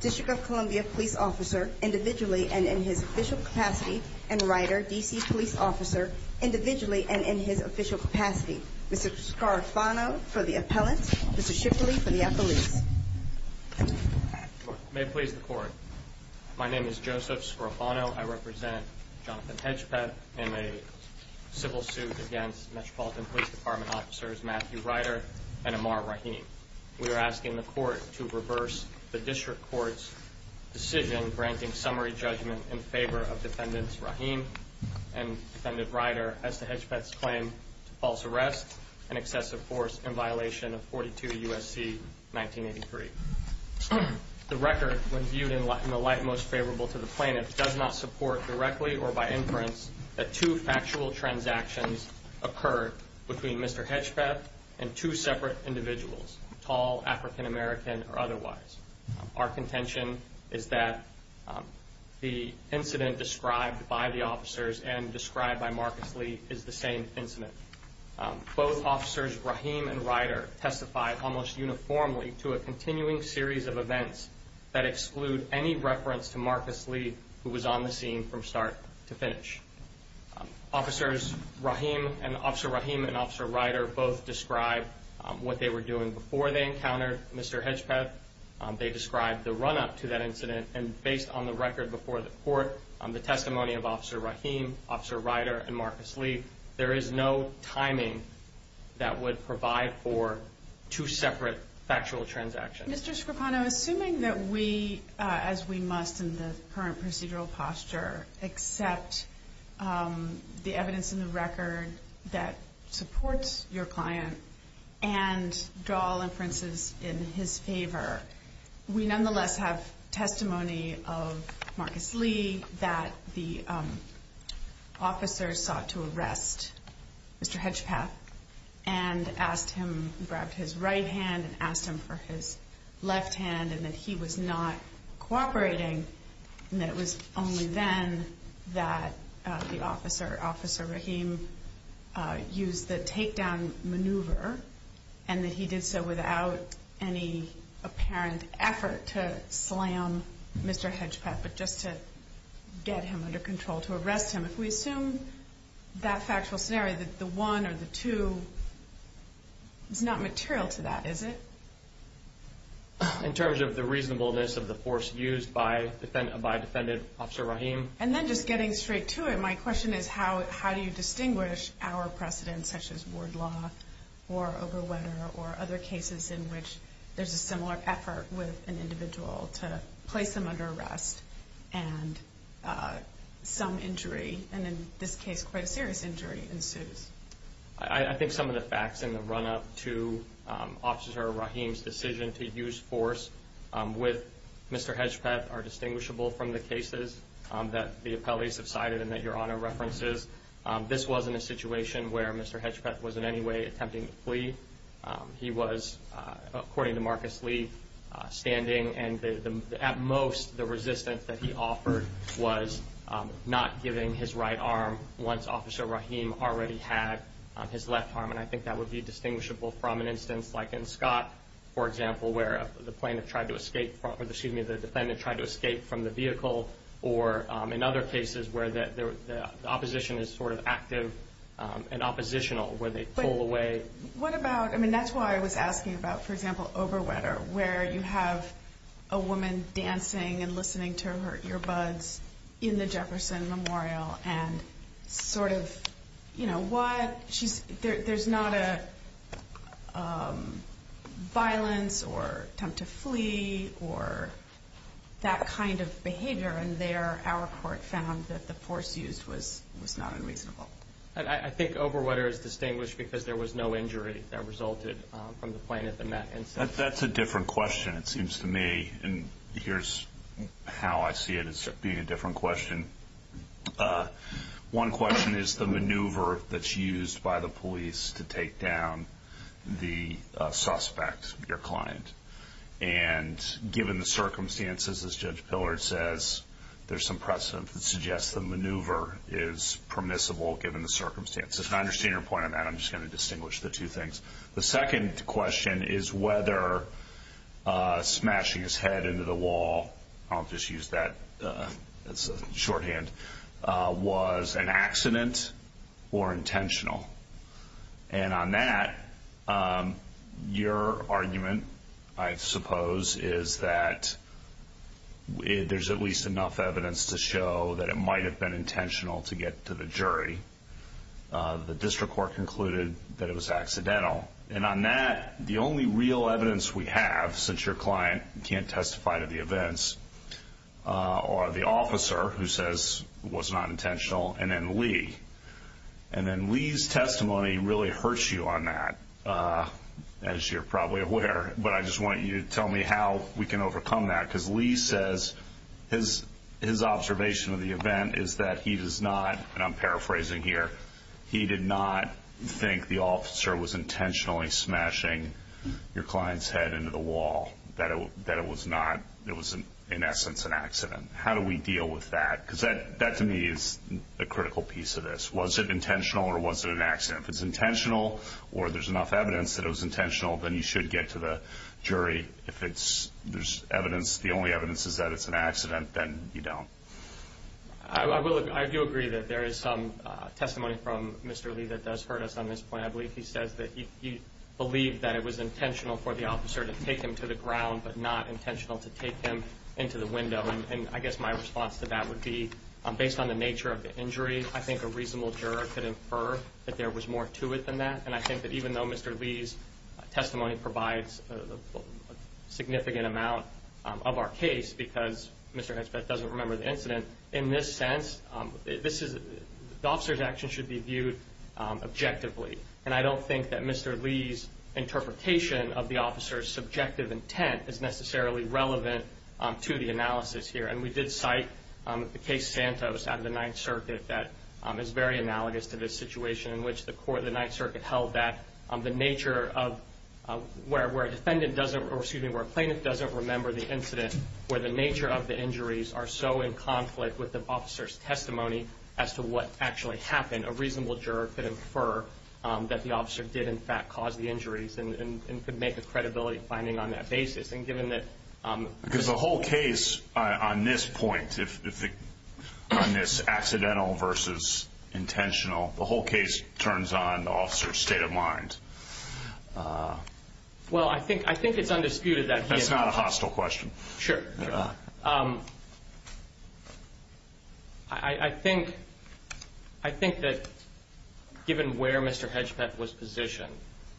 District of Columbia police officer, individually and in his official capacity, and Ryder, DC police officer, individually and in his official capacity. Mr. Scarafano for the appellant, Mr. Shipley for the appellant. May it please the court. My name is Joseph Scarafano. I represent Jonathan Hedgpeth in a civil suit against Metropolitan Police Department officers Matthew Ryder and Ammar Rahim. We are asking the court to reverse the district court's decision granting summary judgment in favor of defendants Rahim and defendant Ryder as to Hedgpeth's claim to false arrest and excessive force in violation of 42 U.S.C. 1983. The record, when viewed in the light most favorable to the plaintiff, does not support directly or by inference that two factual transactions occurred between Mr. Hedgpeth and two separate individuals, tall, African-American, or otherwise. Our contention is that the incident described by the officers and described by Marcus Lee is the same incident. Both officers Rahim and Ryder testified almost uniformly to a continuing series of events that exclude any reference to Marcus Lee, who was on the scene from start to finish. Officers Rahim and Officer Rahim and Officer Ryder both described what they were doing before they encountered Mr. Hedgpeth. They described the run-up to that incident, and based on the record before the court, the testimony of Officer Rahim, Officer Ryder, and Marcus Lee, there is no timing that would provide for two separate factual transactions. Mr. Scrippano, assuming that we, as we must in the current procedural posture, accept the evidence in the record that supports your client and draw all inferences in his favor, we nonetheless have testimony of Marcus Lee that the officers sought to arrest Mr. Hedgpeth and asked him, grabbed his right hand and asked him for his testimony. And that he was not cooperating, and that it was only then that the officer, Officer Rahim, used the takedown maneuver and that he did so without any apparent effort to slam Mr. Hedgpeth, but just to get him under control, to arrest him. If we assume that factual scenario, that the one or the two is not material to that, is it? In terms of the reasonableness of the force used by defendant, by defendant, Officer Rahim? And then just getting straight to it, my question is how do you distinguish our precedence, such as ward law or other cases in which there's a similar effort with an individual to place them under arrest and some injury, and in this case, quite a serious injury ensues? I think some of the facts in the run-up to Officer Rahim's decision to use force with Mr. Hedgpeth are distinguishable from the cases that the appellees have cited and that Your Honor references. This wasn't a situation where Mr. Hedgpeth was in any way attempting to flee. He was, according to Marcus Lee, standing, and at most, the resistance that he offered was not giving his right arm once Officer Rahim already had his left arm. And I think that would be distinguishable from an instance like in Scott, for example, where the defendant tried to escape from the vehicle, or in other cases where the opposition is sort of active and oppositional, where they pull away. What about, I mean, that's why I was asking about, for example, Overwetter, where you have a woman dancing and listening to her earbuds in the Jefferson Memorial and sort of, you know, what, there's not a violence or attempt to flee or that kind of behavior, and there our court found that the force used was not unreasonable. I think Overwetter is distinguished because there was no injury that resulted from the plane at the Met. That's a different question, it seems to me, and here's how I see it as being a different question. One question is the maneuver that's used by the police to take down the suspect, your client. And given the circumstances, as Judge Pillard says, there's some precedent that suggests the maneuver is permissible given the circumstances. And I understand your point on that, I'm just going to distinguish the two things. The second question is whether smashing his head into the wall, I'll just use that as a shorthand, was an accident or intentional. And on that, your argument, I suppose, is that there's at least enough evidence to show that it might have been intentional to get to the jury. The district court concluded that it was accidental. And on that, the only real evidence we have, since your client can't testify to the events, are the officer, who says it was not intentional, and then Lee. And then Lee's testimony really hurts you on that, as you're probably aware, but I just want you to tell me how we can overcome that. Because Lee says his observation of the event is that he does not, and I'm paraphrasing here, he did not think the officer was intentionally smashing your client's head into the wall, that it was not, it was in essence an accident. How do we deal with that? Because that, to me, is a critical piece of this. Was it intentional or was it an accident? If it's intentional, or there's enough evidence that it was intentional, then you should get to the jury. If there's evidence, the only evidence is that it's an accident, then you don't. I do agree that there is some testimony from Mr. Lee that does hurt us on this point. I believe he says that he believed that it was intentional for the officer to take him to the ground, but not intentional to take him into the window. And I guess my response to that would be, based on the nature of the injury, I think a reasonable juror could infer that there was more to it than that. And I think that even though Mr. Lee's testimony provides a significant amount of our case, because Mr. Hensbeth doesn't remember the incident, in this sense, the officer's action should be viewed objectively. And I don't think that Mr. Lee's interpretation of the officer's subjective intent is necessarily relevant to the analysis here. And we did cite the case Santos out of the Ninth Circuit that is very analogous to this situation in which the court of the Ninth Circuit held that the nature of where a defendant doesn't, or excuse me, where a plaintiff doesn't remember the incident, where the nature of the injuries are so in conflict with the officer's testimony as to what actually happened, a reasonable juror could infer that the officer did in fact cause the injuries and could make a credibility finding on that basis. And given that- Because the whole case on this point, on this accidental versus intentional, the whole case turns on the officer's state of mind. Well, I think it's undisputed that he- That's not a hostile question. Sure. I think that given where Mr. Hedgepeth was positioned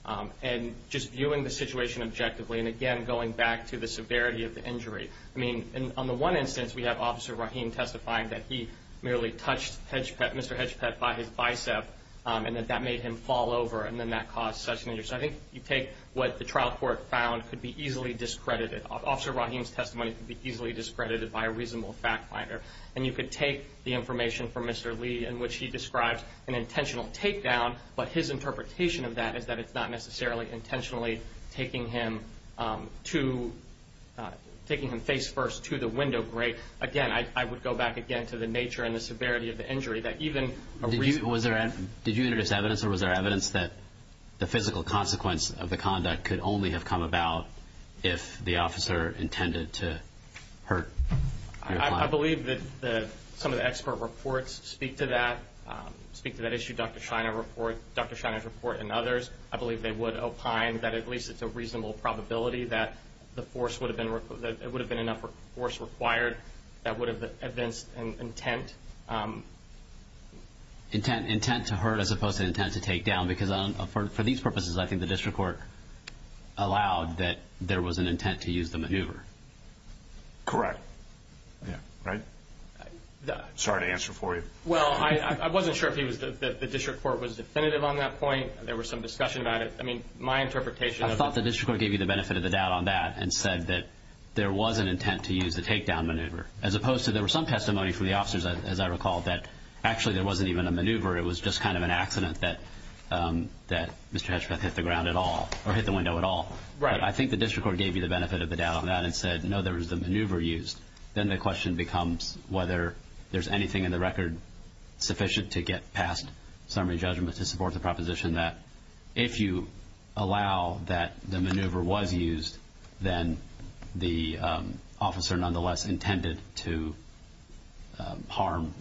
and just viewing the situation objectively and, again, going back to the severity of the injury, I mean, on the one instance we have Officer Rahim testifying that he merely touched Mr. Hedgepeth by his bicep and that that made him fall over and then that caused such an injury. So I think you take what the trial court found could be easily discredited. Officer Rahim's testimony could be easily discredited by a reasonable fact finder. And you could take the information from Mr. Lee in which he describes an intentional takedown, but his interpretation of that is that it's not necessarily intentionally taking him face first to the window grate. Again, I would go back, again, to the nature and the severity of the injury that even a reasonable- Did you introduce evidence or was there evidence that the physical consequence of the conduct could only have come about if the officer intended to hurt your client? I believe that some of the expert reports speak to that, speak to that issue. Dr. Shiner's report and others, I believe they would opine that at least it's a reasonable probability that it would have been enough force required that would have evinced intent. Intent to hurt as opposed to intent to takedown because for these purposes, I think the district court allowed that there was an intent to use the maneuver. Correct. Yeah. Right? Sorry to answer for you. Well, I wasn't sure if the district court was definitive on that point. There was some discussion about it. I mean, my interpretation of it- I thought the district court gave you the benefit of the doubt on that and said that there was an intent to use the takedown maneuver as opposed to there were some testimony from the officers, as I recall, that actually there wasn't even a maneuver. It was just kind of an accident that Mr. Hetchbeth hit the ground at all or hit the window at all. Right. I think the district court gave you the benefit of the doubt on that and said, no, there was the maneuver used. Then the question becomes whether there's anything in the record sufficient to get past summary judgment to support the proposition that if you allow that the maneuver was used, then the officer nonetheless intended to harm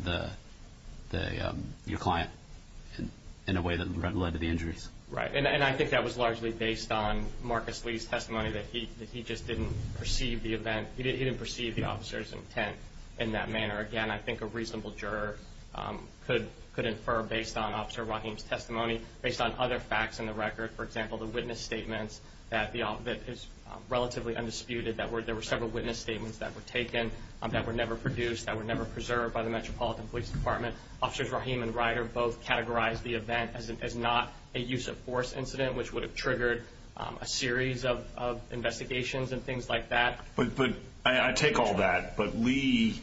your client in a way that led to the injuries. Right. And I think that was largely based on Marcus Lee's testimony that he just didn't perceive the event. He didn't perceive the officer's intent in that manner. Again, I think a reasonable juror could infer based on Officer Rahim's testimony, based on other facts in the record. For example, the witness statements that is relatively undisputed. There were several witness statements that were taken that were never produced, that were never preserved by the Metropolitan Police Department. Officers Rahim and Ryder both categorized the event as not a use of force incident, which would have triggered a series of investigations and things like that. But I take all that. But Lee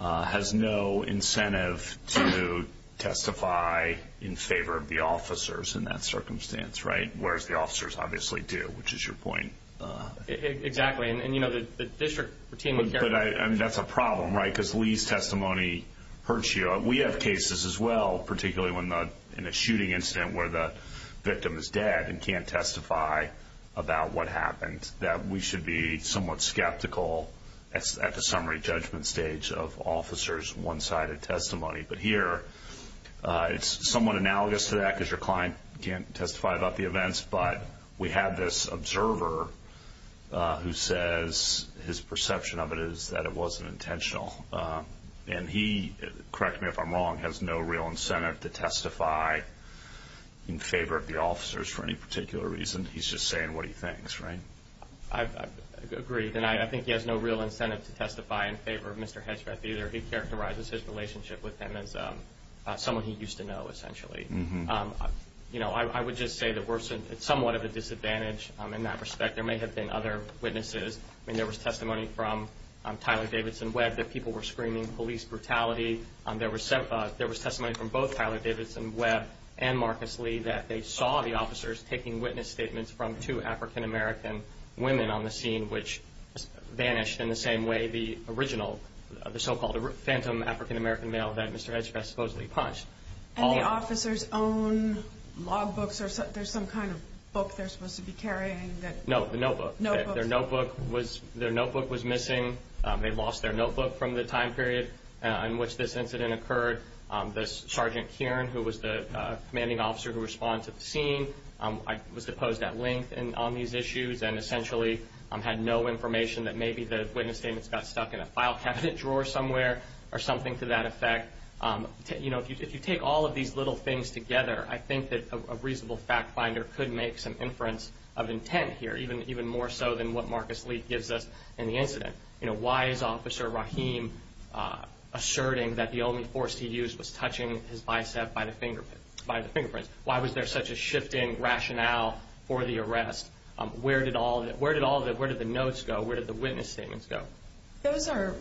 has no incentive to testify in favor of the officers in that circumstance, right? Whereas the officers obviously do, which is your point. Exactly. And, you know, the district team would care. But that's a problem, right? Because Lee's testimony hurts you. We have cases as well, particularly in a shooting incident where the victim is dead and can't testify about what happened, that we should be somewhat skeptical at the summary judgment stage of officers' one-sided testimony. But here it's somewhat analogous to that because your client can't testify about the events. But we have this observer who says his perception of it is that it wasn't intentional. And he, correct me if I'm wrong, has no real incentive to testify in favor of the officers for any particular reason. He's just saying what he thinks, right? I agree. And I think he has no real incentive to testify in favor of Mr. Hedgeth either. He characterizes his relationship with him as someone he used to know, essentially. You know, I would just say that we're somewhat at a disadvantage in that respect. There may have been other witnesses. I mean, there was testimony from Tyler Davidson Webb that people were screaming police brutality. There was testimony from both Tyler Davidson Webb and Marcus Lee that they saw the officers taking witness statements from two African-American women on the scene which vanished in the same way the original, the so-called phantom African-American male that Mr. Hedgeth supposedly punched. And the officers' own logbooks? There's some kind of book they're supposed to be carrying? No, the notebook. Their notebook was missing. They lost their notebook from the time period in which this incident occurred. This Sergeant Kearn, who was the commanding officer who responded to the scene, was deposed at length on these issues and essentially had no information that maybe the witness statements got stuck in a file cabinet drawer somewhere or something to that effect. You know, if you take all of these little things together, I think that a reasonable fact finder could make some inference of intent here, even more so than what Marcus Lee gives us in the incident. You know, why is Officer Rahim asserting that the only force he used was touching his bicep by the fingerprints? Why was there such a shift in rationale for the arrest? Where did the notes go? Where did the witness statements go? Those are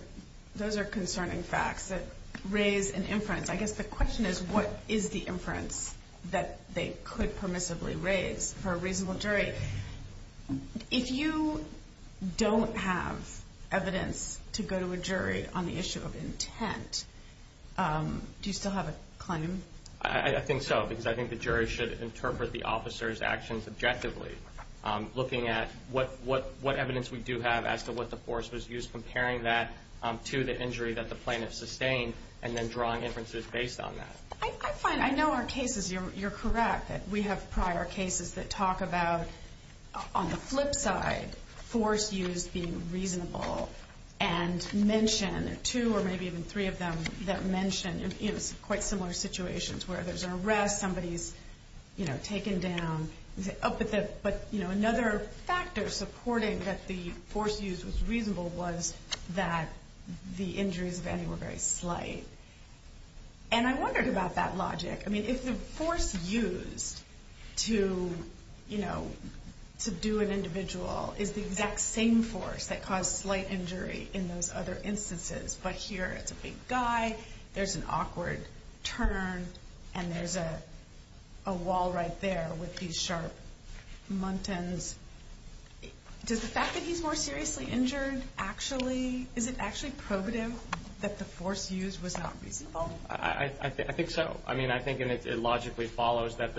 concerning facts that raise an inference. I guess the question is, what is the inference that they could permissibly raise for a reasonable jury? If you don't have evidence to go to a jury on the issue of intent, do you still have a claim? I think so, because I think the jury should interpret the officer's actions objectively, looking at what evidence we do have as to what the force was used, comparing that to the injury that the plaintiff sustained, and then drawing inferences based on that. I find, I know our cases, you're correct, that we have prior cases that talk about, on the flip side, force used being reasonable and mention, two or maybe even three of them that mention, you know, quite similar situations where there's an arrest, somebody's, you know, taken down. But, you know, another factor supporting that the force used was reasonable was that the injuries, if any, were very slight. And I wondered about that logic. I mean, if the force used to, you know, to do an individual is the exact same force that caused slight injury in those other instances, but here it's a big guy, there's an awkward turn, and there's a wall right there with these sharp muntins, does the fact that he's more seriously injured actually, is it actually probative that the force used was not reasonable? I think so. I mean, I think it logically follows that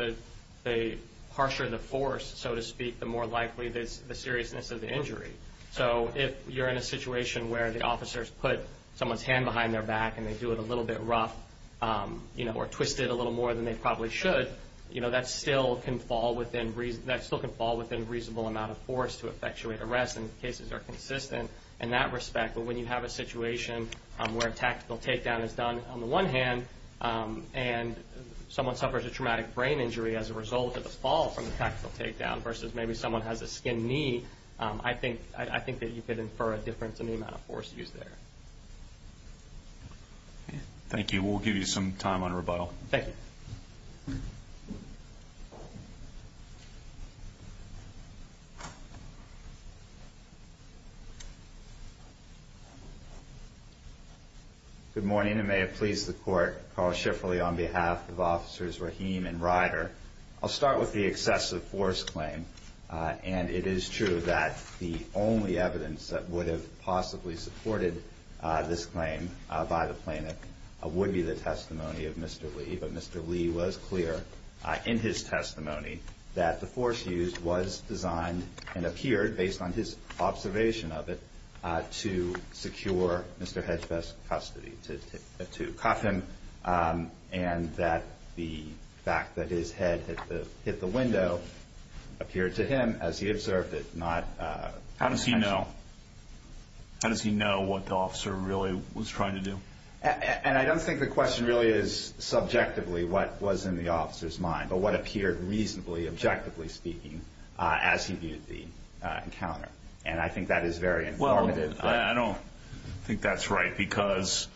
the harsher the force, so to speak, the more likely the seriousness of the injury. So if you're in a situation where the officers put someone's hand behind their back and they do it a little bit rough, you know, or twist it a little more than they probably should, you know, that still can fall within reasonable amount of force to effectuate arrest, and the cases are consistent in that respect. But when you have a situation where a tactical takedown is done on the one hand, and someone suffers a traumatic brain injury as a result of the fall from the tactical takedown versus maybe someone has a skinned knee, I think that you could infer a difference in the amount of force used there. Thank you. We'll give you some time on rebuttal. Thank you. Thank you. Good morning, and may it please the Court, Carl Schifferle on behalf of Officers Rahim and Ryder. I'll start with the excessive force claim. And it is true that the only evidence that would have possibly supported this claim by the plaintiff would be the testimony of Mr. Lee. But Mr. Lee was clear in his testimony that the force used was designed and appeared, based on his observation of it, to secure Mr. Hedgefest's custody, to cuff him, and that the fact that his head hit the window appeared to him, as he observed it, not special. How does he know? How does he know what the officer really was trying to do? And I don't think the question really is subjectively what was in the officer's mind, but what appeared reasonably, objectively speaking, as he viewed the encounter. And I think that is very informative. Well, I don't think that's right because,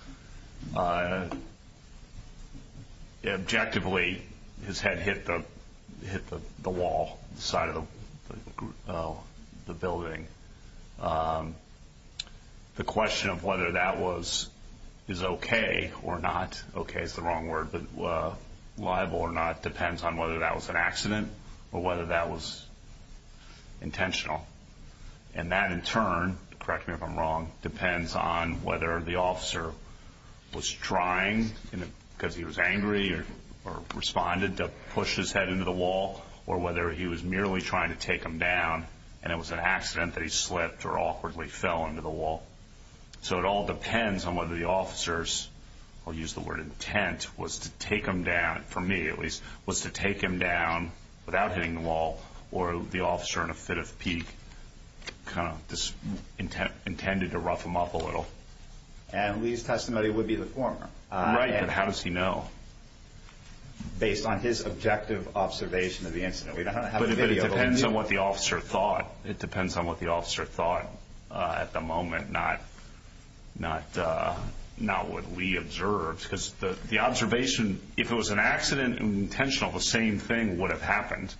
objectively, his head hit the wall, the side of the building. The question of whether that was okay or not, okay is the wrong word, but liable or not, depends on whether that was an accident or whether that was intentional. And that, in turn, correct me if I'm wrong, depends on whether the officer was trying, because he was angry, or responded to push his head into the wall, or whether he was merely trying to take him down, and it was an accident that he slipped or awkwardly fell into the wall. So it all depends on whether the officer's, I'll use the word intent, was to take him down, for me at least, was to take him down without hitting the wall, or the officer, in a fit of pique, kind of intended to rough him up a little. And Lee's testimony would be the former. Right, but how does he know? Based on his objective observation of the incident. But it depends on what the officer thought. It depends on what the officer thought at the moment, not what Lee observed. Because the observation, if it was an accident and intentional, the same thing would have happened.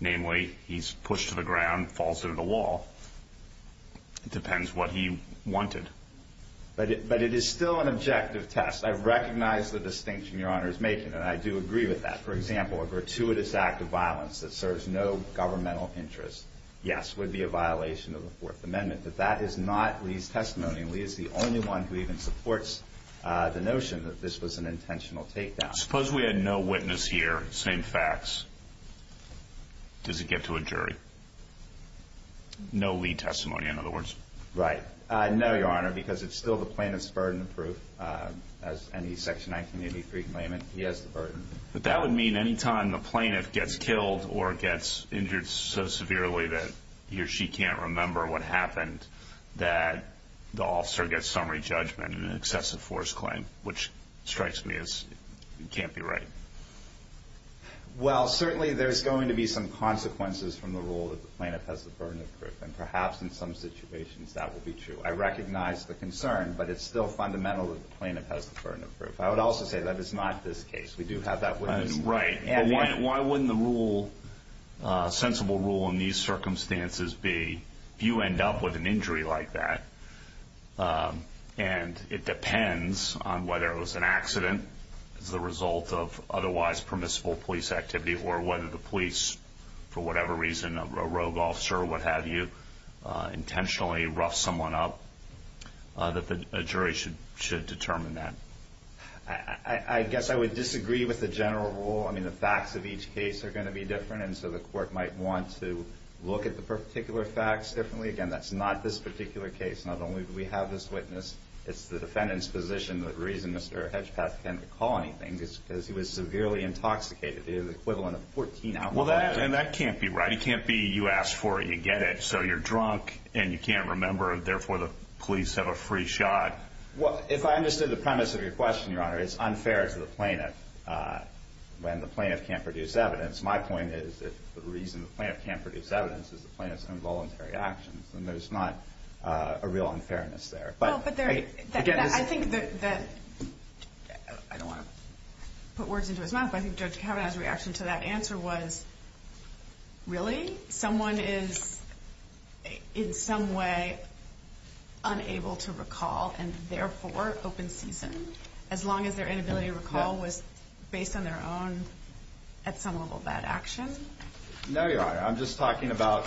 Namely, he's pushed to the ground, falls into the wall. It depends what he wanted. But it is still an objective test. I recognize the distinction Your Honor is making, and I do agree with that. That, for example, a gratuitous act of violence that serves no governmental interest, yes, would be a violation of the Fourth Amendment. But that is not Lee's testimony. Lee is the only one who even supports the notion that this was an intentional takedown. Suppose we had no witness here, same facts. Does it get to a jury? No Lee testimony, in other words. Right. No, Your Honor, because it's still the plaintiff's burden of proof. As any Section 1983 claimant, he has the burden. But that would mean any time the plaintiff gets killed or gets injured so severely that he or she can't remember what happened, that the officer gets summary judgment in an excessive force claim, which strikes me as can't be right. Well, certainly there's going to be some consequences from the role that the plaintiff has the burden of proof. And perhaps in some situations that will be true. I recognize the concern, but it's still fundamental that the plaintiff has the burden of proof. I would also say that is not this case. We do have that witness. Right. Why wouldn't the sensible rule in these circumstances be you end up with an injury like that, and it depends on whether it was an accident as a result of otherwise permissible police activity or whether the police, for whatever reason, a rogue officer or what have you, intentionally roughed someone up, that the jury should determine that. I guess I would disagree with the general rule. I mean, the facts of each case are going to be different, and so the court might want to look at the particular facts differently. Again, that's not this particular case. Not only do we have this witness, it's the defendant's position. The reason Mr. Hedgepeth can't recall anything is because he was severely intoxicated. It is the equivalent of 14 alcoholics. And that can't be right. It can't be you ask for it, you get it. So you're drunk and you can't remember, therefore the police have a free shot. If I understood the premise of your question, Your Honor, it's unfair to the plaintiff when the plaintiff can't produce evidence. My point is that the reason the plaintiff can't produce evidence is the plaintiff's involuntary actions, and there's not a real unfairness there. I don't want to put words into his mouth, but I think Judge Kavanaugh's reaction to that answer was, really, someone is in some way unable to recall and therefore open season, as long as their inability to recall was based on their own, at some level, bad action? No, Your Honor. I'm just talking about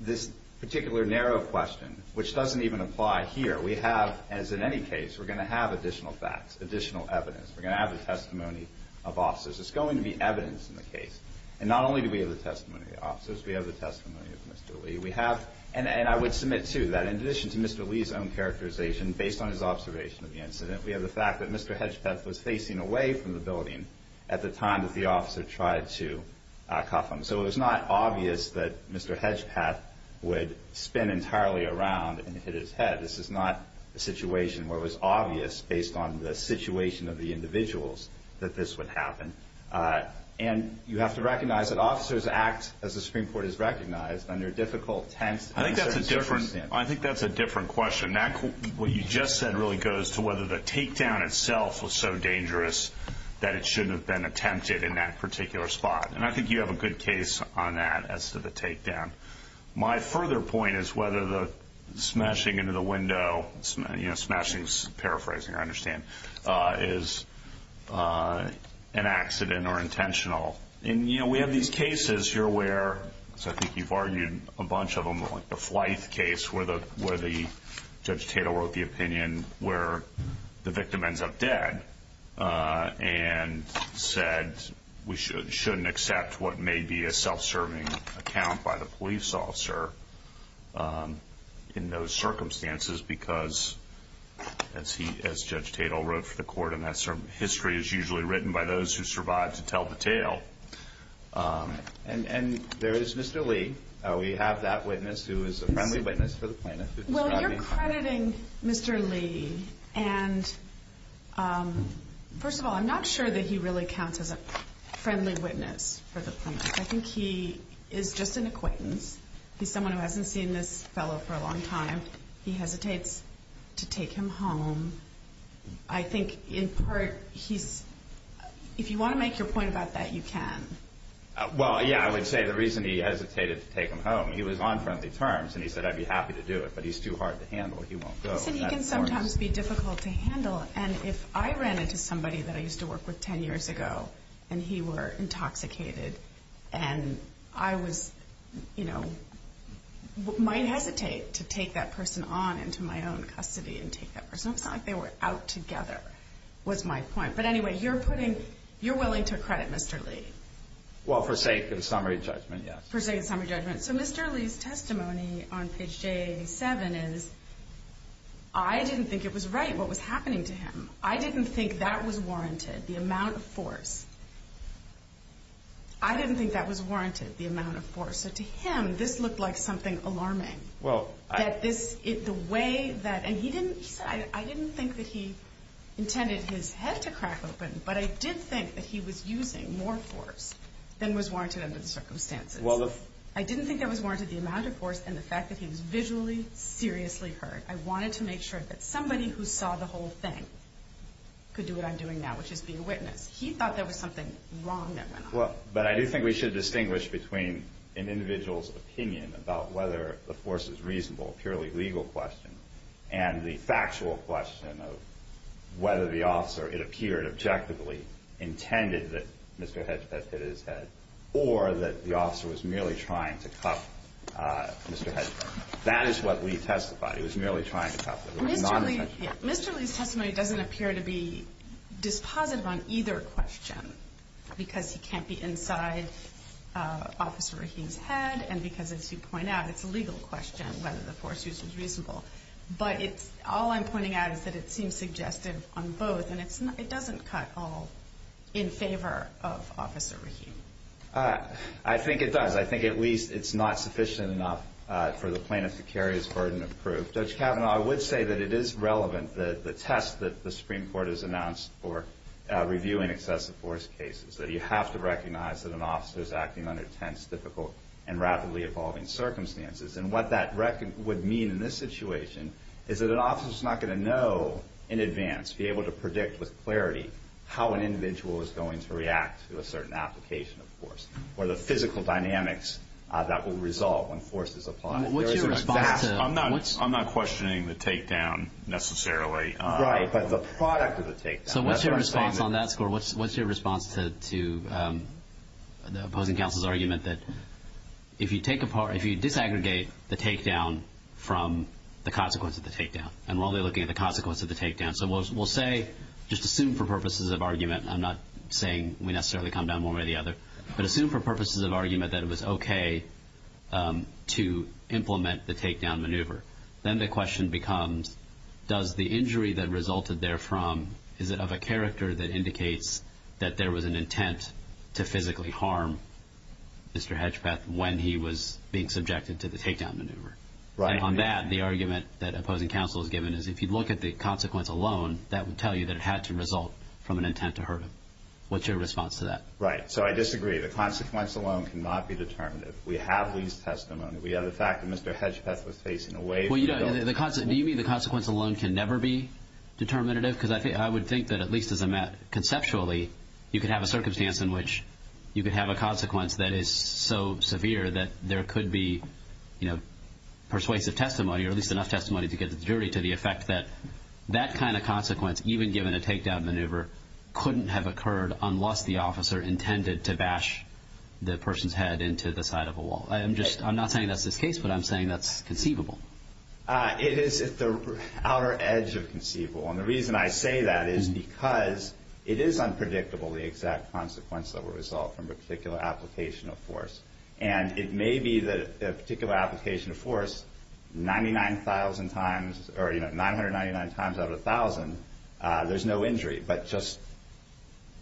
this particular narrow question, which doesn't even apply here. We have, as in any case, we're going to have additional facts, additional evidence. We're going to have the testimony of officers. There's going to be evidence in the case. And not only do we have the testimony of officers, we have the testimony of Mr. Lee. We have, and I would submit, too, that in addition to Mr. Lee's own characterization, based on his observation of the incident, we have the fact that Mr. Hedgepeth was facing away from the building at the time that the officer tried to cuff him. So it was not obvious that Mr. Hedgepeth would spin entirely around and hit his head. This is not a situation where it was obvious, based on the situation of the individuals, that this would happen. And you have to recognize that officers act, as the Supreme Court has recognized, under difficult, tense circumstances. I think that's a different question. What you just said really goes to whether the takedown itself was so dangerous that it shouldn't have been attempted in that particular spot. And I think you have a good case on that as to the takedown. My further point is whether the smashing into the window, you know, smashing is paraphrasing, I understand, is an accident or intentional. And, you know, we have these cases here where, as I think you've argued a bunch of them, like the Flythe case where Judge Tatel wrote the opinion where the victim ends up dead and said we shouldn't accept what may be a self-serving account by the police officer in those circumstances because, as Judge Tatel wrote for the court, history is usually written by those who survive to tell the tale. And there is Mr. Lee. We have that witness who is a friendly witness for the plaintiff. Well, you're crediting Mr. Lee. And, first of all, I'm not sure that he really counts as a friendly witness for the plaintiff. I think he is just an acquaintance. He's someone who hasn't seen this fellow for a long time. He hesitates to take him home. I think, in part, if you want to make your point about that, you can. Well, yeah, I would say the reason he hesitated to take him home, he was on friendly terms, and he said, I'd be happy to do it, but he's too hard to handle. He won't go. He can sometimes be difficult to handle. And if I ran into somebody that I used to work with 10 years ago and he were intoxicated and I might hesitate to take that person on into my own custody and take that person home, it's not like they were out together, was my point. But, anyway, you're willing to credit Mr. Lee. Well, for sake of summary judgment, yes. For sake of summary judgment. So Mr. Lee's testimony on page J87 is, I didn't think it was right what was happening to him. I didn't think that was warranted, the amount of force. I didn't think that was warranted, the amount of force. So to him, this looked like something alarming. That this, the way that, and he said, I didn't think that he intended his head to crack open, but I did think that he was using more force than was warranted under the circumstances. I didn't think that was warranted, the amount of force, and the fact that he was visually, seriously hurt. I wanted to make sure that somebody who saw the whole thing could do what I'm doing now, which is be a witness. He thought there was something wrong that went on. Well, but I do think we should distinguish between an individual's opinion about whether the force is reasonable, a purely legal question, and the factual question of whether the officer, it appeared objectively, intended that Mr. Hedgepet hit his head, or that the officer was merely trying to cuff Mr. Hedgepet. That is what Lee testified. He was merely trying to cuff him. Mr. Lee's testimony doesn't appear to be dispositive on either question, because he can't be inside Officer Rahim's head and because, as you point out, it's a legal question whether the force use was reasonable. But all I'm pointing out is that it seems suggestive on both, and it doesn't cut all in favor of Officer Rahim. I think it does. I think at least it's not sufficient enough for the plaintiff to carry his burden of proof. Judge Kavanaugh, I would say that it is relevant that the test that the Supreme Court has announced for reviewing excessive force cases, that you have to recognize that an officer is acting under tense, difficult, and rapidly evolving circumstances. And what that would mean in this situation is that an officer is not going to know in advance, be able to predict with clarity how an individual is going to react to a certain application of force or the physical dynamics that will resolve when force is applied. I'm not questioning the takedown necessarily. Right, but the product of the takedown. So what's your response on that score? What's your response to the opposing counsel's argument that if you take apart, if you disaggregate the takedown from the consequence of the takedown? And we're only looking at the consequence of the takedown. So we'll say, just assume for purposes of argument, I'm not saying we necessarily come down one way or the other, but assume for purposes of argument that it was okay to implement the takedown maneuver. Then the question becomes, does the injury that resulted therefrom, is it of a character that indicates that there was an intent to physically harm Mr. Hedgepeth when he was being subjected to the takedown maneuver? And on that, the argument that opposing counsel has given is if you look at the consequence alone, that would tell you that it had to result from an intent to hurt him. What's your response to that? Right. So I disagree. The consequence alone cannot be determinative. We have these testimonies. We have the fact that Mr. Hedgepeth was facing a way for him to go. Do you mean the consequence alone can never be determinative? Because I would think that at least as a matter, conceptually, you could have a circumstance in which you could have a consequence that is so severe that there could be persuasive testimony or at least enough testimony to get the jury to the effect that that kind of consequence, even given a takedown maneuver, couldn't have occurred unless the officer intended to bash the person's head into the side of a wall. I'm not saying that's the case, but I'm saying that's conceivable. It is at the outer edge of conceivable. And the reason I say that is because it is unpredictable the exact consequence that would result from a particular application of force. And it may be that a particular application of force 99,000 times or 999 times out of 1,000, there's no injury, but just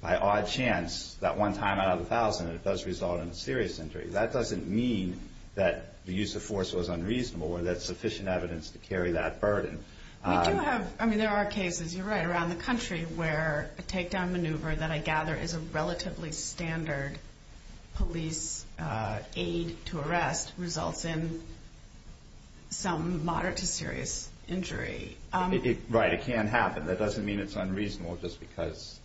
by odd chance, that one time out of 1,000, it does result in a serious injury. That doesn't mean that the use of force was unreasonable or that there's sufficient evidence to carry that burden. We do have, I mean, there are cases, you're right, around the country where a takedown maneuver that I gather is a relatively standard police aid to arrest results in some moderate to serious injury. Right, it can happen. That doesn't mean it's unreasonable just because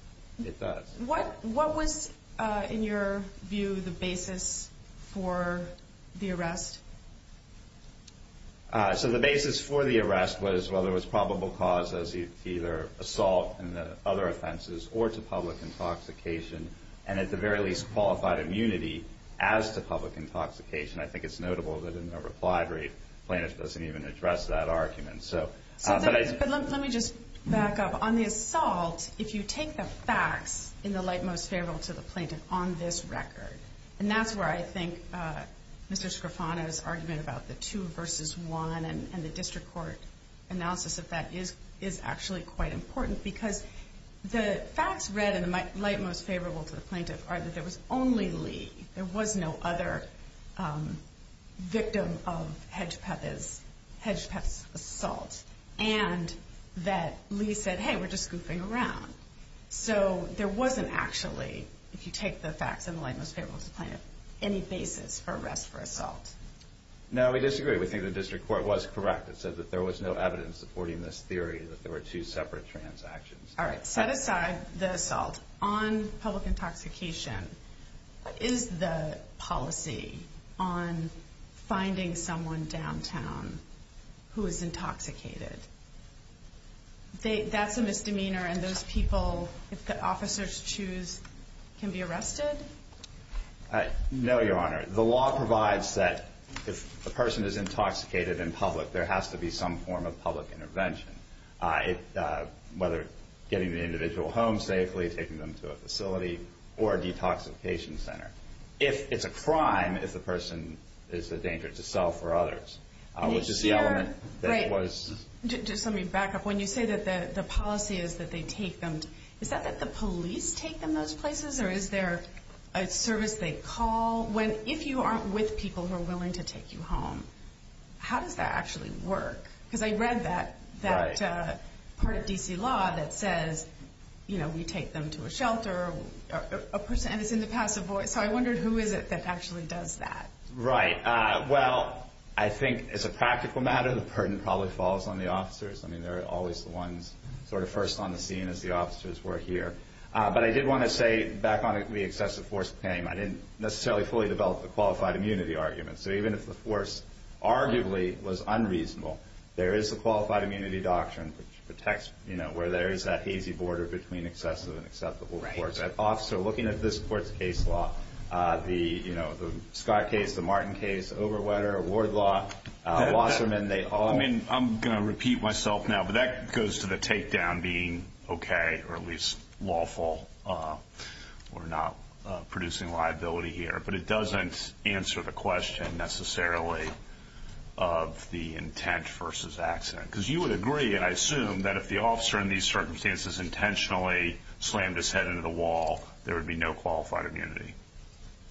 it does. What was, in your view, the basis for the arrest? So the basis for the arrest was, well, there was probable cause as to either assault and other offenses or to public intoxication and at the very least qualified immunity as to public intoxication. I think it's notable that in the replied rate, Planish doesn't even address that argument. Let me just back up. On the assault, if you take the facts in the light most favorable to the plaintiff on this record, and that's where I think Mr. Scrifano's argument about the two versus one and the district court analysis of that is actually quite important because the facts read in the light most favorable to the plaintiff are that there was only Lee. There was no other victim of Hedgepeth's assault and that Lee said, hey, we're just goofing around. So there wasn't actually, if you take the facts in the light most favorable to the plaintiff, any basis for arrest for assault. No, we disagree. We think the district court was correct. It said that there was no evidence supporting this theory that there were two separate transactions. All right, set aside the assault. On public intoxication, what is the policy on finding someone downtown who is intoxicated? That's a misdemeanor, and those people, if the officers choose, can be arrested? No, Your Honor. The law provides that if a person is intoxicated in public, there has to be some form of public intervention, whether getting the individual home safely, taking them to a facility, or a detoxification center. It's a crime if the person is a danger to self or others, which is the element that was... Just let me back up. When you say that the policy is that they take them, is that that the police take them to those places, or is there a service they call? If you aren't with people who are willing to take you home, how does that actually work? Because I read that part of D.C. law that says we take them to a shelter, and it's in the passive voice, so I wondered who is it that actually does that? Right. Well, I think as a practical matter, the burden probably falls on the officers. I mean, they're always the ones sort of first on the scene, as the officers were here. But I did want to say, back on the excessive force claim, I didn't necessarily fully develop the qualified immunity argument. So even if the force arguably was unreasonable, there is a qualified immunity doctrine which protects where there is that hazy border between excessive and acceptable force. An officer looking at this court's case law, the Scott case, the Martin case, Overwetter, Ward law, Wasserman, they all... I'm going to repeat myself now, but that goes to the takedown being okay, or at least lawful. We're not producing liability here. But it doesn't answer the question necessarily of the intent versus accident. Because you would agree, and I assume, that if the officer in these circumstances intentionally slammed his head into the wall, there would be no qualified immunity.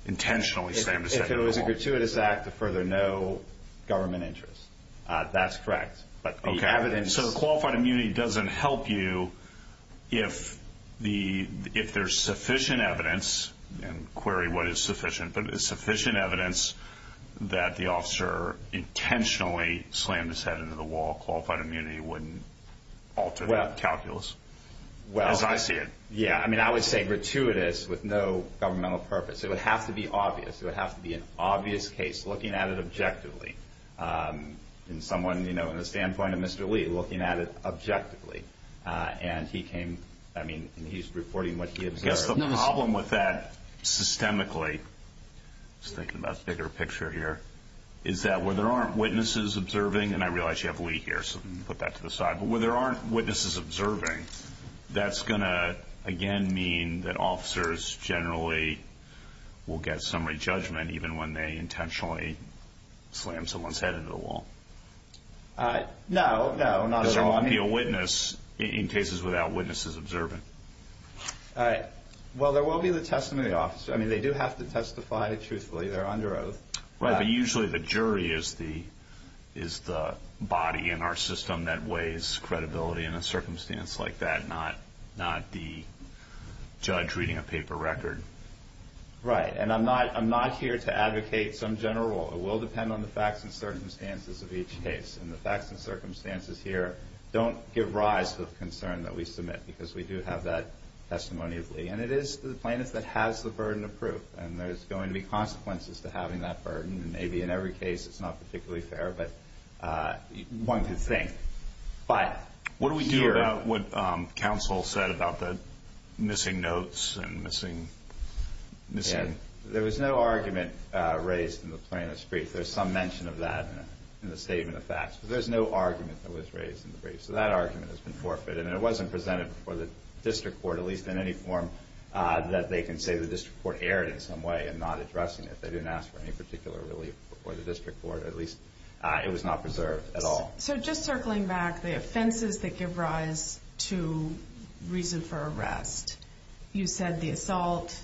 Intentionally slammed his head into the wall. If it was a gratuitous act to further no government interest. That's correct. So qualified immunity doesn't help you if there's sufficient evidence, and query what is sufficient, but there's sufficient evidence that the officer intentionally slammed his head into the wall. Qualified immunity wouldn't alter that calculus, as I see it. I would say gratuitous with no governmental purpose. It would have to be obvious. It would have to be an obvious case, looking at it objectively. In someone, you know, in the standpoint of Mr. Lee, looking at it objectively. And he came, I mean, he's reporting what he observed. I guess the problem with that systemically, just thinking about a bigger picture here, is that where there aren't witnesses observing, and I realize you have Lee here, so I'm going to put that to the side, but where there aren't witnesses observing, that's going to, again, mean that officers generally will get summary judgment even when they intentionally slam someone's head into the wall. No, no. There won't be a witness in cases without witnesses observing. Well, there will be the testimony officer. I mean, they do have to testify truthfully. They're under oath. Right, but usually the jury is the body in our system that weighs credibility in a circumstance like that, not the judge reading a paper record. Right, and I'm not here to advocate some general rule. It will depend on the facts and circumstances of each case. And the facts and circumstances here don't give rise to the concern that we submit, because we do have that testimony of Lee. And it is the plaintiff that has the burden of proof, and there's going to be consequences to having that burden. Maybe in every case it's not particularly fair, but one could think. What do we do about what counsel said about the missing notes and missing? There was no argument raised in the plaintiff's brief. There's some mention of that in the statement of facts, but there's no argument that was raised in the brief. So that argument has been forfeited, and it wasn't presented before the district court, at least in any form that they can say the district court erred in some way in not addressing it. They didn't ask for any particular relief before the district court. At least it was not preserved at all. So just circling back, the offenses that give rise to reason for arrest, you said the assault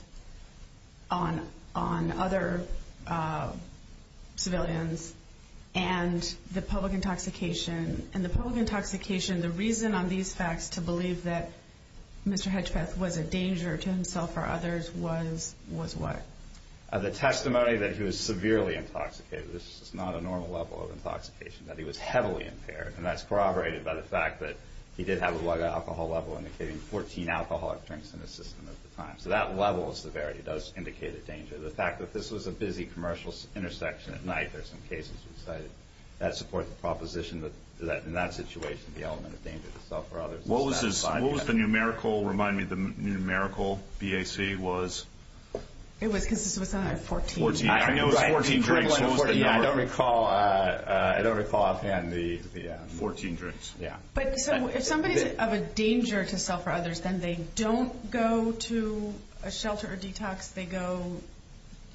on other civilians and the public intoxication. And the public intoxication, the reason on these facts to believe that Mr. Hedgepeth was a danger to himself or others was what? The testimony that he was severely intoxicated. This is not a normal level of intoxication, that he was heavily impaired, and that's corroborated by the fact that he did have a low alcohol level indicating 14 alcoholic drinks in his system at the time. So that level of severity does indicate a danger. The fact that this was a busy commercial intersection at night, there's some cases that support the proposition that in that situation the element of danger to himself or others is satisfied. What was the numerical? Remind me, the numerical BAC was? It was 14. I know 14 drinks was the number. I don't recall offhand the 14 drinks. But if somebody's of a danger to himself or others, then they don't go to a shelter or detox, they go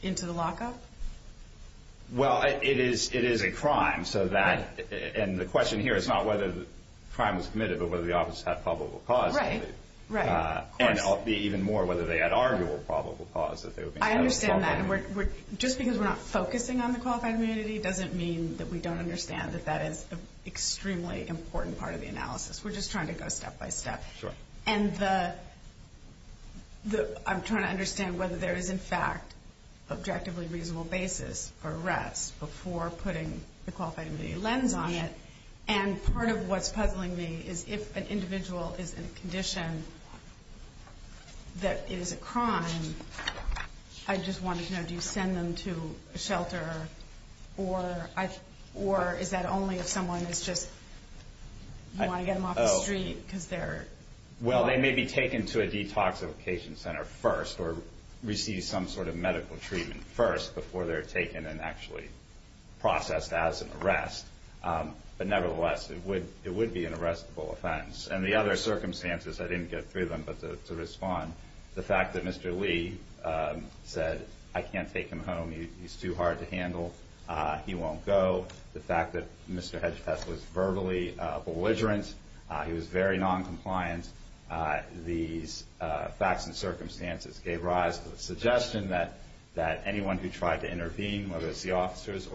into the lockup? Well, it is a crime. And the question here is not whether the crime was committed, but whether the officers had probable cause. And even more, whether they had arguable probable cause. I understand that. Just because we're not focusing on the qualified immunity doesn't mean that we don't understand that that is an extremely important part of the analysis. We're just trying to go step by step. And I'm trying to understand whether there is, in fact, an objectively reasonable basis for arrest before putting the qualified immunity lens on it. And part of what's puzzling me is if an individual is in a condition that it is a crime, I just wanted to know, do you send them to a shelter? Or is that only if someone is just, you want to get them off the street? Well, they may be taken to a detoxification center first or receive some sort of medical treatment first before they're taken and actually processed as an arrest. But nevertheless, it would be an arrestable offense. And the other circumstances, I didn't get through them, but to respond, the fact that Mr. Lee said, I can't take him home. He's too hard to handle. He won't go. The fact that Mr. Hedgetest was verbally belligerent. He was very noncompliant. These facts and circumstances gave rise to the suggestion that anyone who tried to intervene, whether it's the officers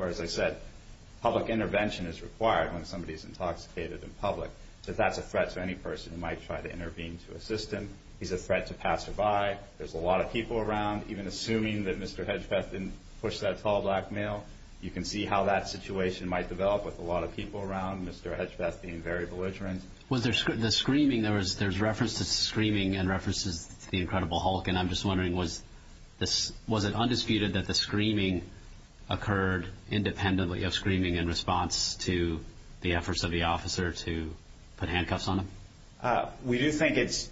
when somebody is intoxicated in public, that that's a threat to any person who might try to intervene to assist him. He's a threat to passerby. There's a lot of people around. Even assuming that Mr. Hedgetest didn't push that tall black male, you can see how that situation might develop with a lot of people around, Mr. Hedgetest being very belligerent. Was there screaming? There's reference to screaming and references to the Incredible Hulk. And I'm just wondering, was it undisputed that the screaming occurred independently of screaming in response to the efforts of the officer to put handcuffs on him? We do think it's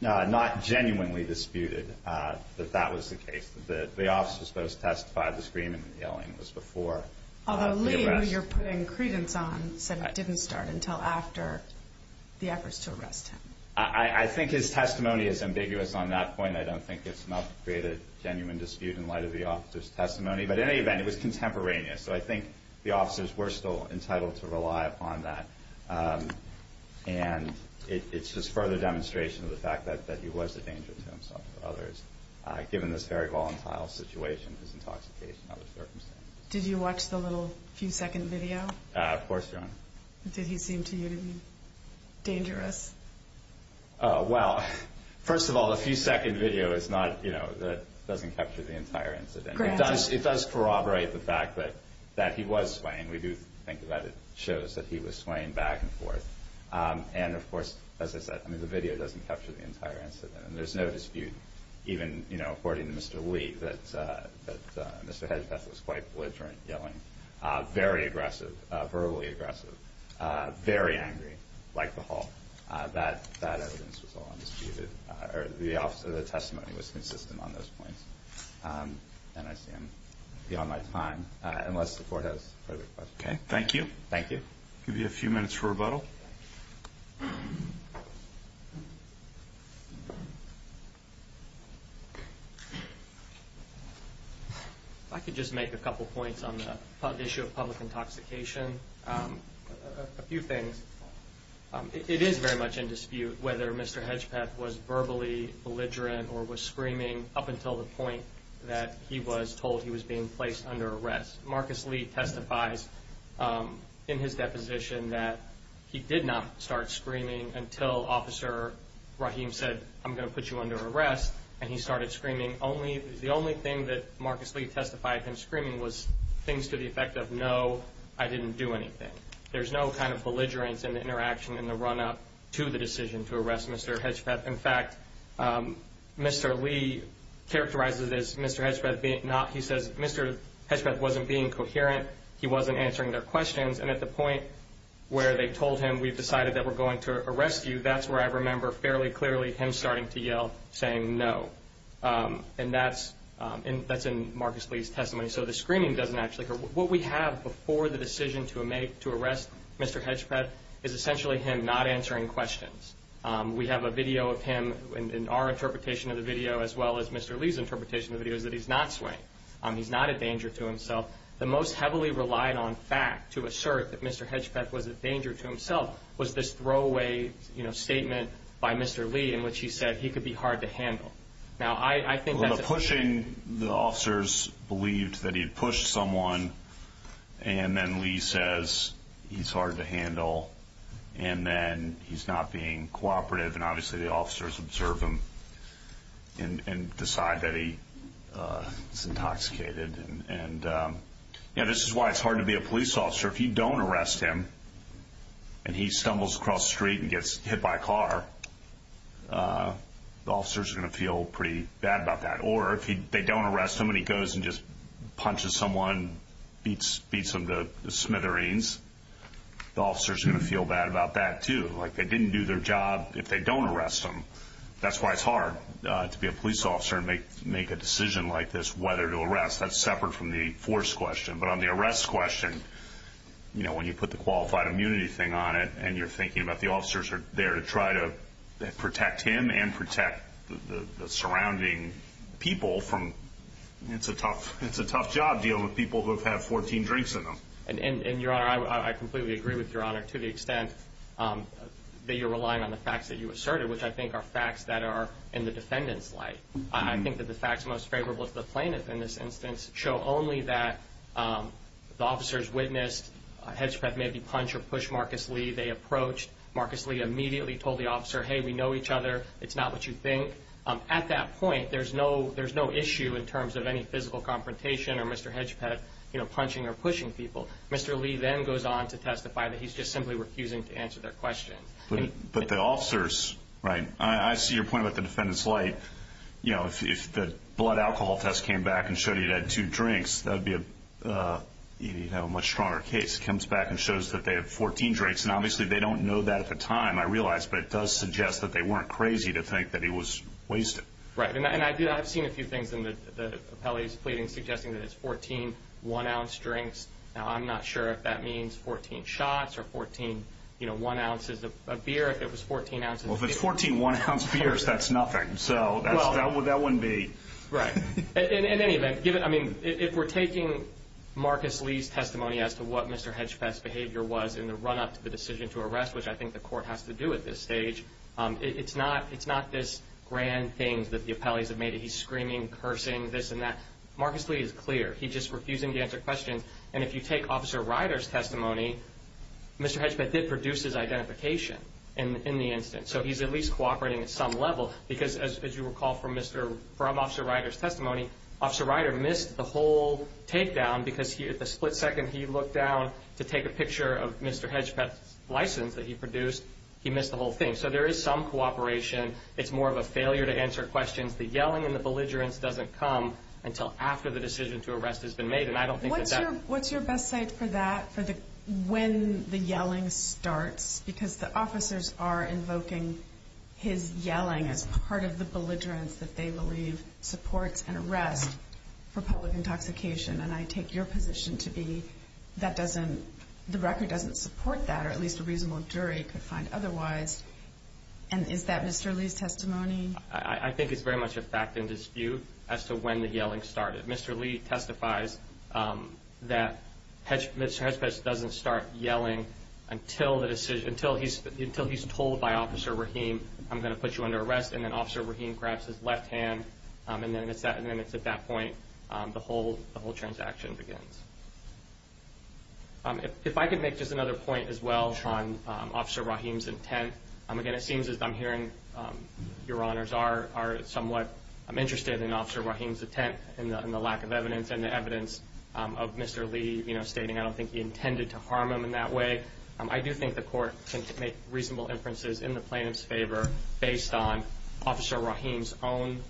not genuinely disputed that that was the case. The officers both testified the screaming and yelling was before the arrest. Although Lee, who you're putting credence on, said it didn't start until after the efforts to arrest him. I think his testimony is ambiguous on that point. I don't think it's enough to create a genuine dispute in light of the officer's testimony. But in any event, it was contemporaneous. So I think the officers were still entitled to rely upon that. And it's just further demonstration of the fact that he was a danger to himself or others, given this very volatile situation, his intoxication, other circumstances. Did you watch the little few-second video? Of course, Your Honor. Did he seem to you to be dangerous? Well, first of all, the few-second video doesn't capture the entire incident. It does corroborate the fact that he was swaying. We do think that it shows that he was swaying back and forth. And, of course, as I said, the video doesn't capture the entire incident. And there's no dispute, even according to Mr. Lee, that Mr. Hedgepeth was quite belligerent, yelling, very aggressive, verbally aggressive, very angry, like the hall. That evidence was all undisputed. The testimony was consistent on those points. And I stand beyond my time, unless the Court has further questions. Okay. Thank you. Thank you. I'll give you a few minutes for rebuttal. If I could just make a couple points on the issue of public intoxication. A few things. It is very much in dispute whether Mr. Hedgepeth was verbally belligerent or was screaming up until the point that he was told he was being placed under arrest. Marcus Lee testifies in his deposition that he did not start screaming until Officer Rahim said, I'm going to put you under arrest. And he started screaming. The only thing that Marcus Lee testified him screaming was things to the effect of, no, I didn't do anything. There's no kind of belligerence in the interaction, in the run-up to the decision to arrest Mr. Hedgepeth. In fact, Mr. Lee characterizes this, Mr. Hedgepeth being not, he says Mr. Hedgepeth wasn't being coherent. He wasn't answering their questions. And at the point where they told him, we've decided that we're going to arrest you, that's where I remember fairly clearly him starting to yell, saying no. And that's in Marcus Lee's testimony. So the screaming doesn't actually occur. What we have before the decision to arrest Mr. Hedgepeth is essentially him not answering questions. We have a video of him in our interpretation of the video as well as Mr. Lee's interpretation of the video is that he's not swaying. He's not a danger to himself. The most heavily relied on fact to assert that Mr. Hedgepeth was a danger to himself was this throwaway statement by Mr. Lee in which he said he could be hard to handle. The pushing, the officers believed that he had pushed someone and then Lee says he's hard to handle and then he's not being cooperative and obviously the officers observe him and decide that he's intoxicated. This is why it's hard to be a police officer. If you don't arrest him and he stumbles across the street and gets hit by a car, the officers are going to feel pretty bad about that. Or if they don't arrest him and he goes and just punches someone, beats them to smithereens, the officers are going to feel bad about that too. Like they didn't do their job if they don't arrest him. That's why it's hard to be a police officer and make a decision like this whether to arrest. That's separate from the force question. But on the arrest question, when you put the qualified immunity thing on it and you're thinking about the officers are there to try to protect him and protect the surrounding people, it's a tough job dealing with people who have had 14 drinks in them. Your Honor, I completely agree with Your Honor to the extent that you're relying on the facts that you asserted, which I think are facts that are in the defendant's light. I think that the facts most favorable to the plaintiff in this instance show only that the officers witnessed Hedgepeth maybe punch or push Marcus Lee. They approached. Marcus Lee immediately told the officer, hey, we know each other. It's not what you think. At that point, there's no issue in terms of any physical confrontation or Mr. Hedgepeth punching or pushing people. Mr. Lee then goes on to testify that he's just simply refusing to answer their question. But the officers, right, I see your point about the defendant's light. If the blood alcohol test came back and showed he'd had two drinks, that would be a much stronger case. It comes back and shows that they had 14 drinks, and obviously they don't know that at the time, I realize, but it does suggest that they weren't crazy to think that he was wasted. Right, and I've seen a few things in the appellee's pleading suggesting that it's 14 one-ounce drinks. Now, I'm not sure if that means 14 shots or 14 one-ounces of beer, if it was 14 ounces of beer. Well, if it's 14 one-ounce beers, that's nothing. So that wouldn't be. Right. In any event, if we're taking Marcus Lee's testimony as to what Mr. Hedgepeth's behavior was in the run-up to the decision to arrest, which I think the court has to do at this stage, it's not this grand thing that the appellees have made. He's screaming, cursing, this and that. Marcus Lee is clear. He's just refusing to answer questions. And if you take Officer Ryder's testimony, Mr. Hedgepeth did produce his identification in the incident, so he's at least cooperating at some level. Because, as you recall from Officer Ryder's testimony, Officer Ryder missed the whole takedown because the split second he looked down to take a picture of Mr. Hedgepeth's license that he produced, he missed the whole thing. So there is some cooperation. It's more of a failure to answer questions. The yelling and the belligerence doesn't come until after the decision to arrest has been made. What's your best site for that, for when the yelling starts? Because the officers are invoking his yelling as part of the belligerence that they believe supports an arrest for public intoxication. And I take your position to be that the record doesn't support that, or at least a reasonable jury could find otherwise. And is that Mr. Lee's testimony? I think it's very much a fact and dispute as to when the yelling started. Mr. Lee testifies that Mr. Hedgepeth doesn't start yelling until he's told by Officer Rahim, I'm going to put you under arrest. And then Officer Rahim grabs his left hand, and then it's at that point the whole transaction begins. If I could make just another point as well on Officer Rahim's intent. Again, it seems as I'm hearing your honors are somewhat interested in Officer Rahim's intent and the lack of evidence and the evidence of Mr. Lee stating I don't think he intended to harm him in that way. I do think the court can make reasonable inferences in the plaintiff's favor based on Officer Rahim's own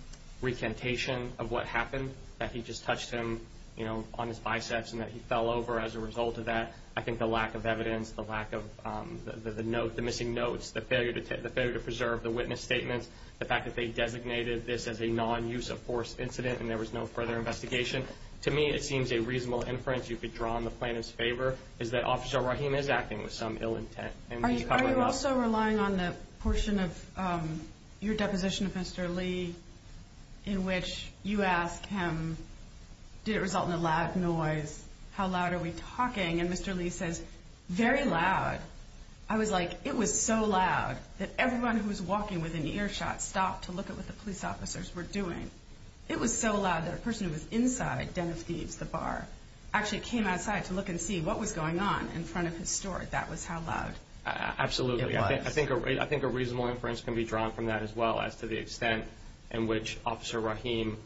recantation of what happened, that he just touched him on his biceps and that he fell over as a result of that. I think the lack of evidence, the missing notes, the failure to preserve the witness statements, the fact that they designated this as a non-use-of-force incident and there was no further investigation, to me it seems a reasonable inference you could draw on the plaintiff's favor is that Officer Rahim is acting with some ill intent. Are you also relying on the portion of your deposition of Mr. Lee in which you ask him did it result in a loud noise, how loud are we talking, and Mr. Lee says very loud. I was like it was so loud that everyone who was walking with an earshot stopped to look at what the police officers were doing. It was so loud that a person who was inside Den of Thieves, the bar, actually came outside to look and see what was going on in front of his store. That was how loud it was. Absolutely. I think a reasonable inference can be drawn from that as well as to the extent in which Officer Rahim,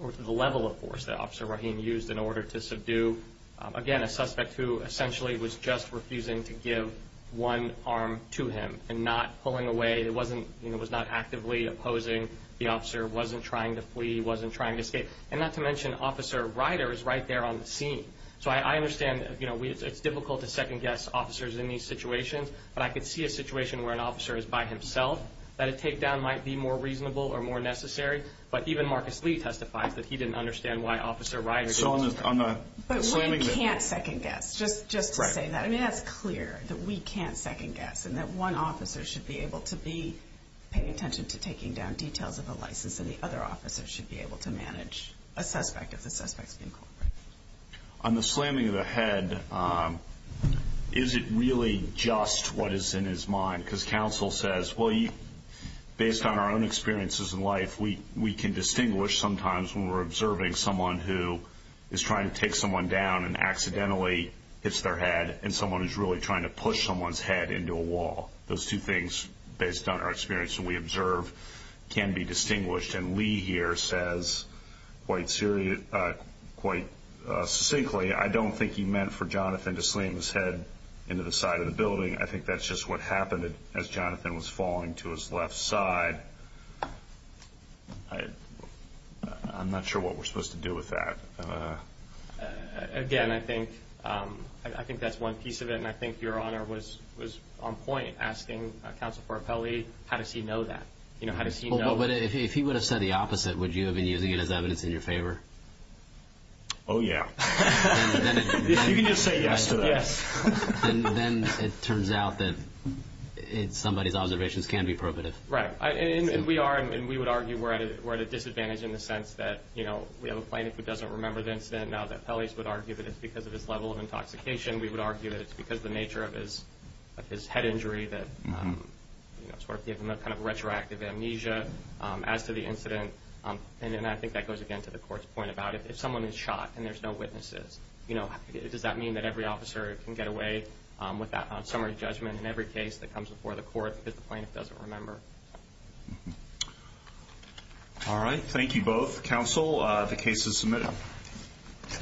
or the level of force that Officer Rahim used in order to subdue, again, a suspect who essentially was just refusing to give one arm to him and not pulling away, was not actively opposing the officer, wasn't trying to flee, wasn't trying to escape, and not to mention Officer Ryder is right there on the scene. So I understand it's difficult to second-guess officers in these situations, but I could see a situation where an officer is by himself, that a takedown might be more reasonable or more necessary, but even Marcus Lee testifies that he didn't understand why Officer Ryder did that. But we can't second-guess, just to say that. I mean, that's clear, that we can't second-guess, and that one officer should be able to be paying attention to taking down details of the license, and the other officer should be able to manage a suspect if the suspect is being cooperative. On the slamming of the head, is it really just what is in his mind? Because counsel says, well, based on our own experiences in life, we can distinguish sometimes when we're observing someone who is trying to take someone down and accidentally hits their head, and someone who's really trying to push someone's head into a wall. Those two things, based on our experience that we observe, can be distinguished. And Lee here says quite succinctly, I don't think he meant for Jonathan to slam his head into the side of the building. I think that's just what happened as Jonathan was falling to his left side. I'm not sure what we're supposed to do with that. Again, I think that's one piece of it, and I think Your Honor was on point asking Counsel Farfelli, how does he know that? If he would have said the opposite, would you have been using it as evidence in your favor? Oh, yeah. You can just say yes to that. Yes. Then it turns out that somebody's observations can be probative. Right. And we are, and we would argue we're at a disadvantage in the sense that, you know, we have a plaintiff who doesn't remember the incident. Now, the felonies would argue that it's because of his level of intoxication. We would argue that it's because of the nature of his head injury that sort of gives him a kind of retroactive amnesia as to the incident. And I think that goes again to the court's point about if someone is shot and there's no witnesses, you know, does that mean that every officer can get away with that summary judgment in every case that comes before the court because the plaintiff doesn't remember? All right. Thank you both. Counsel, the case is submitted.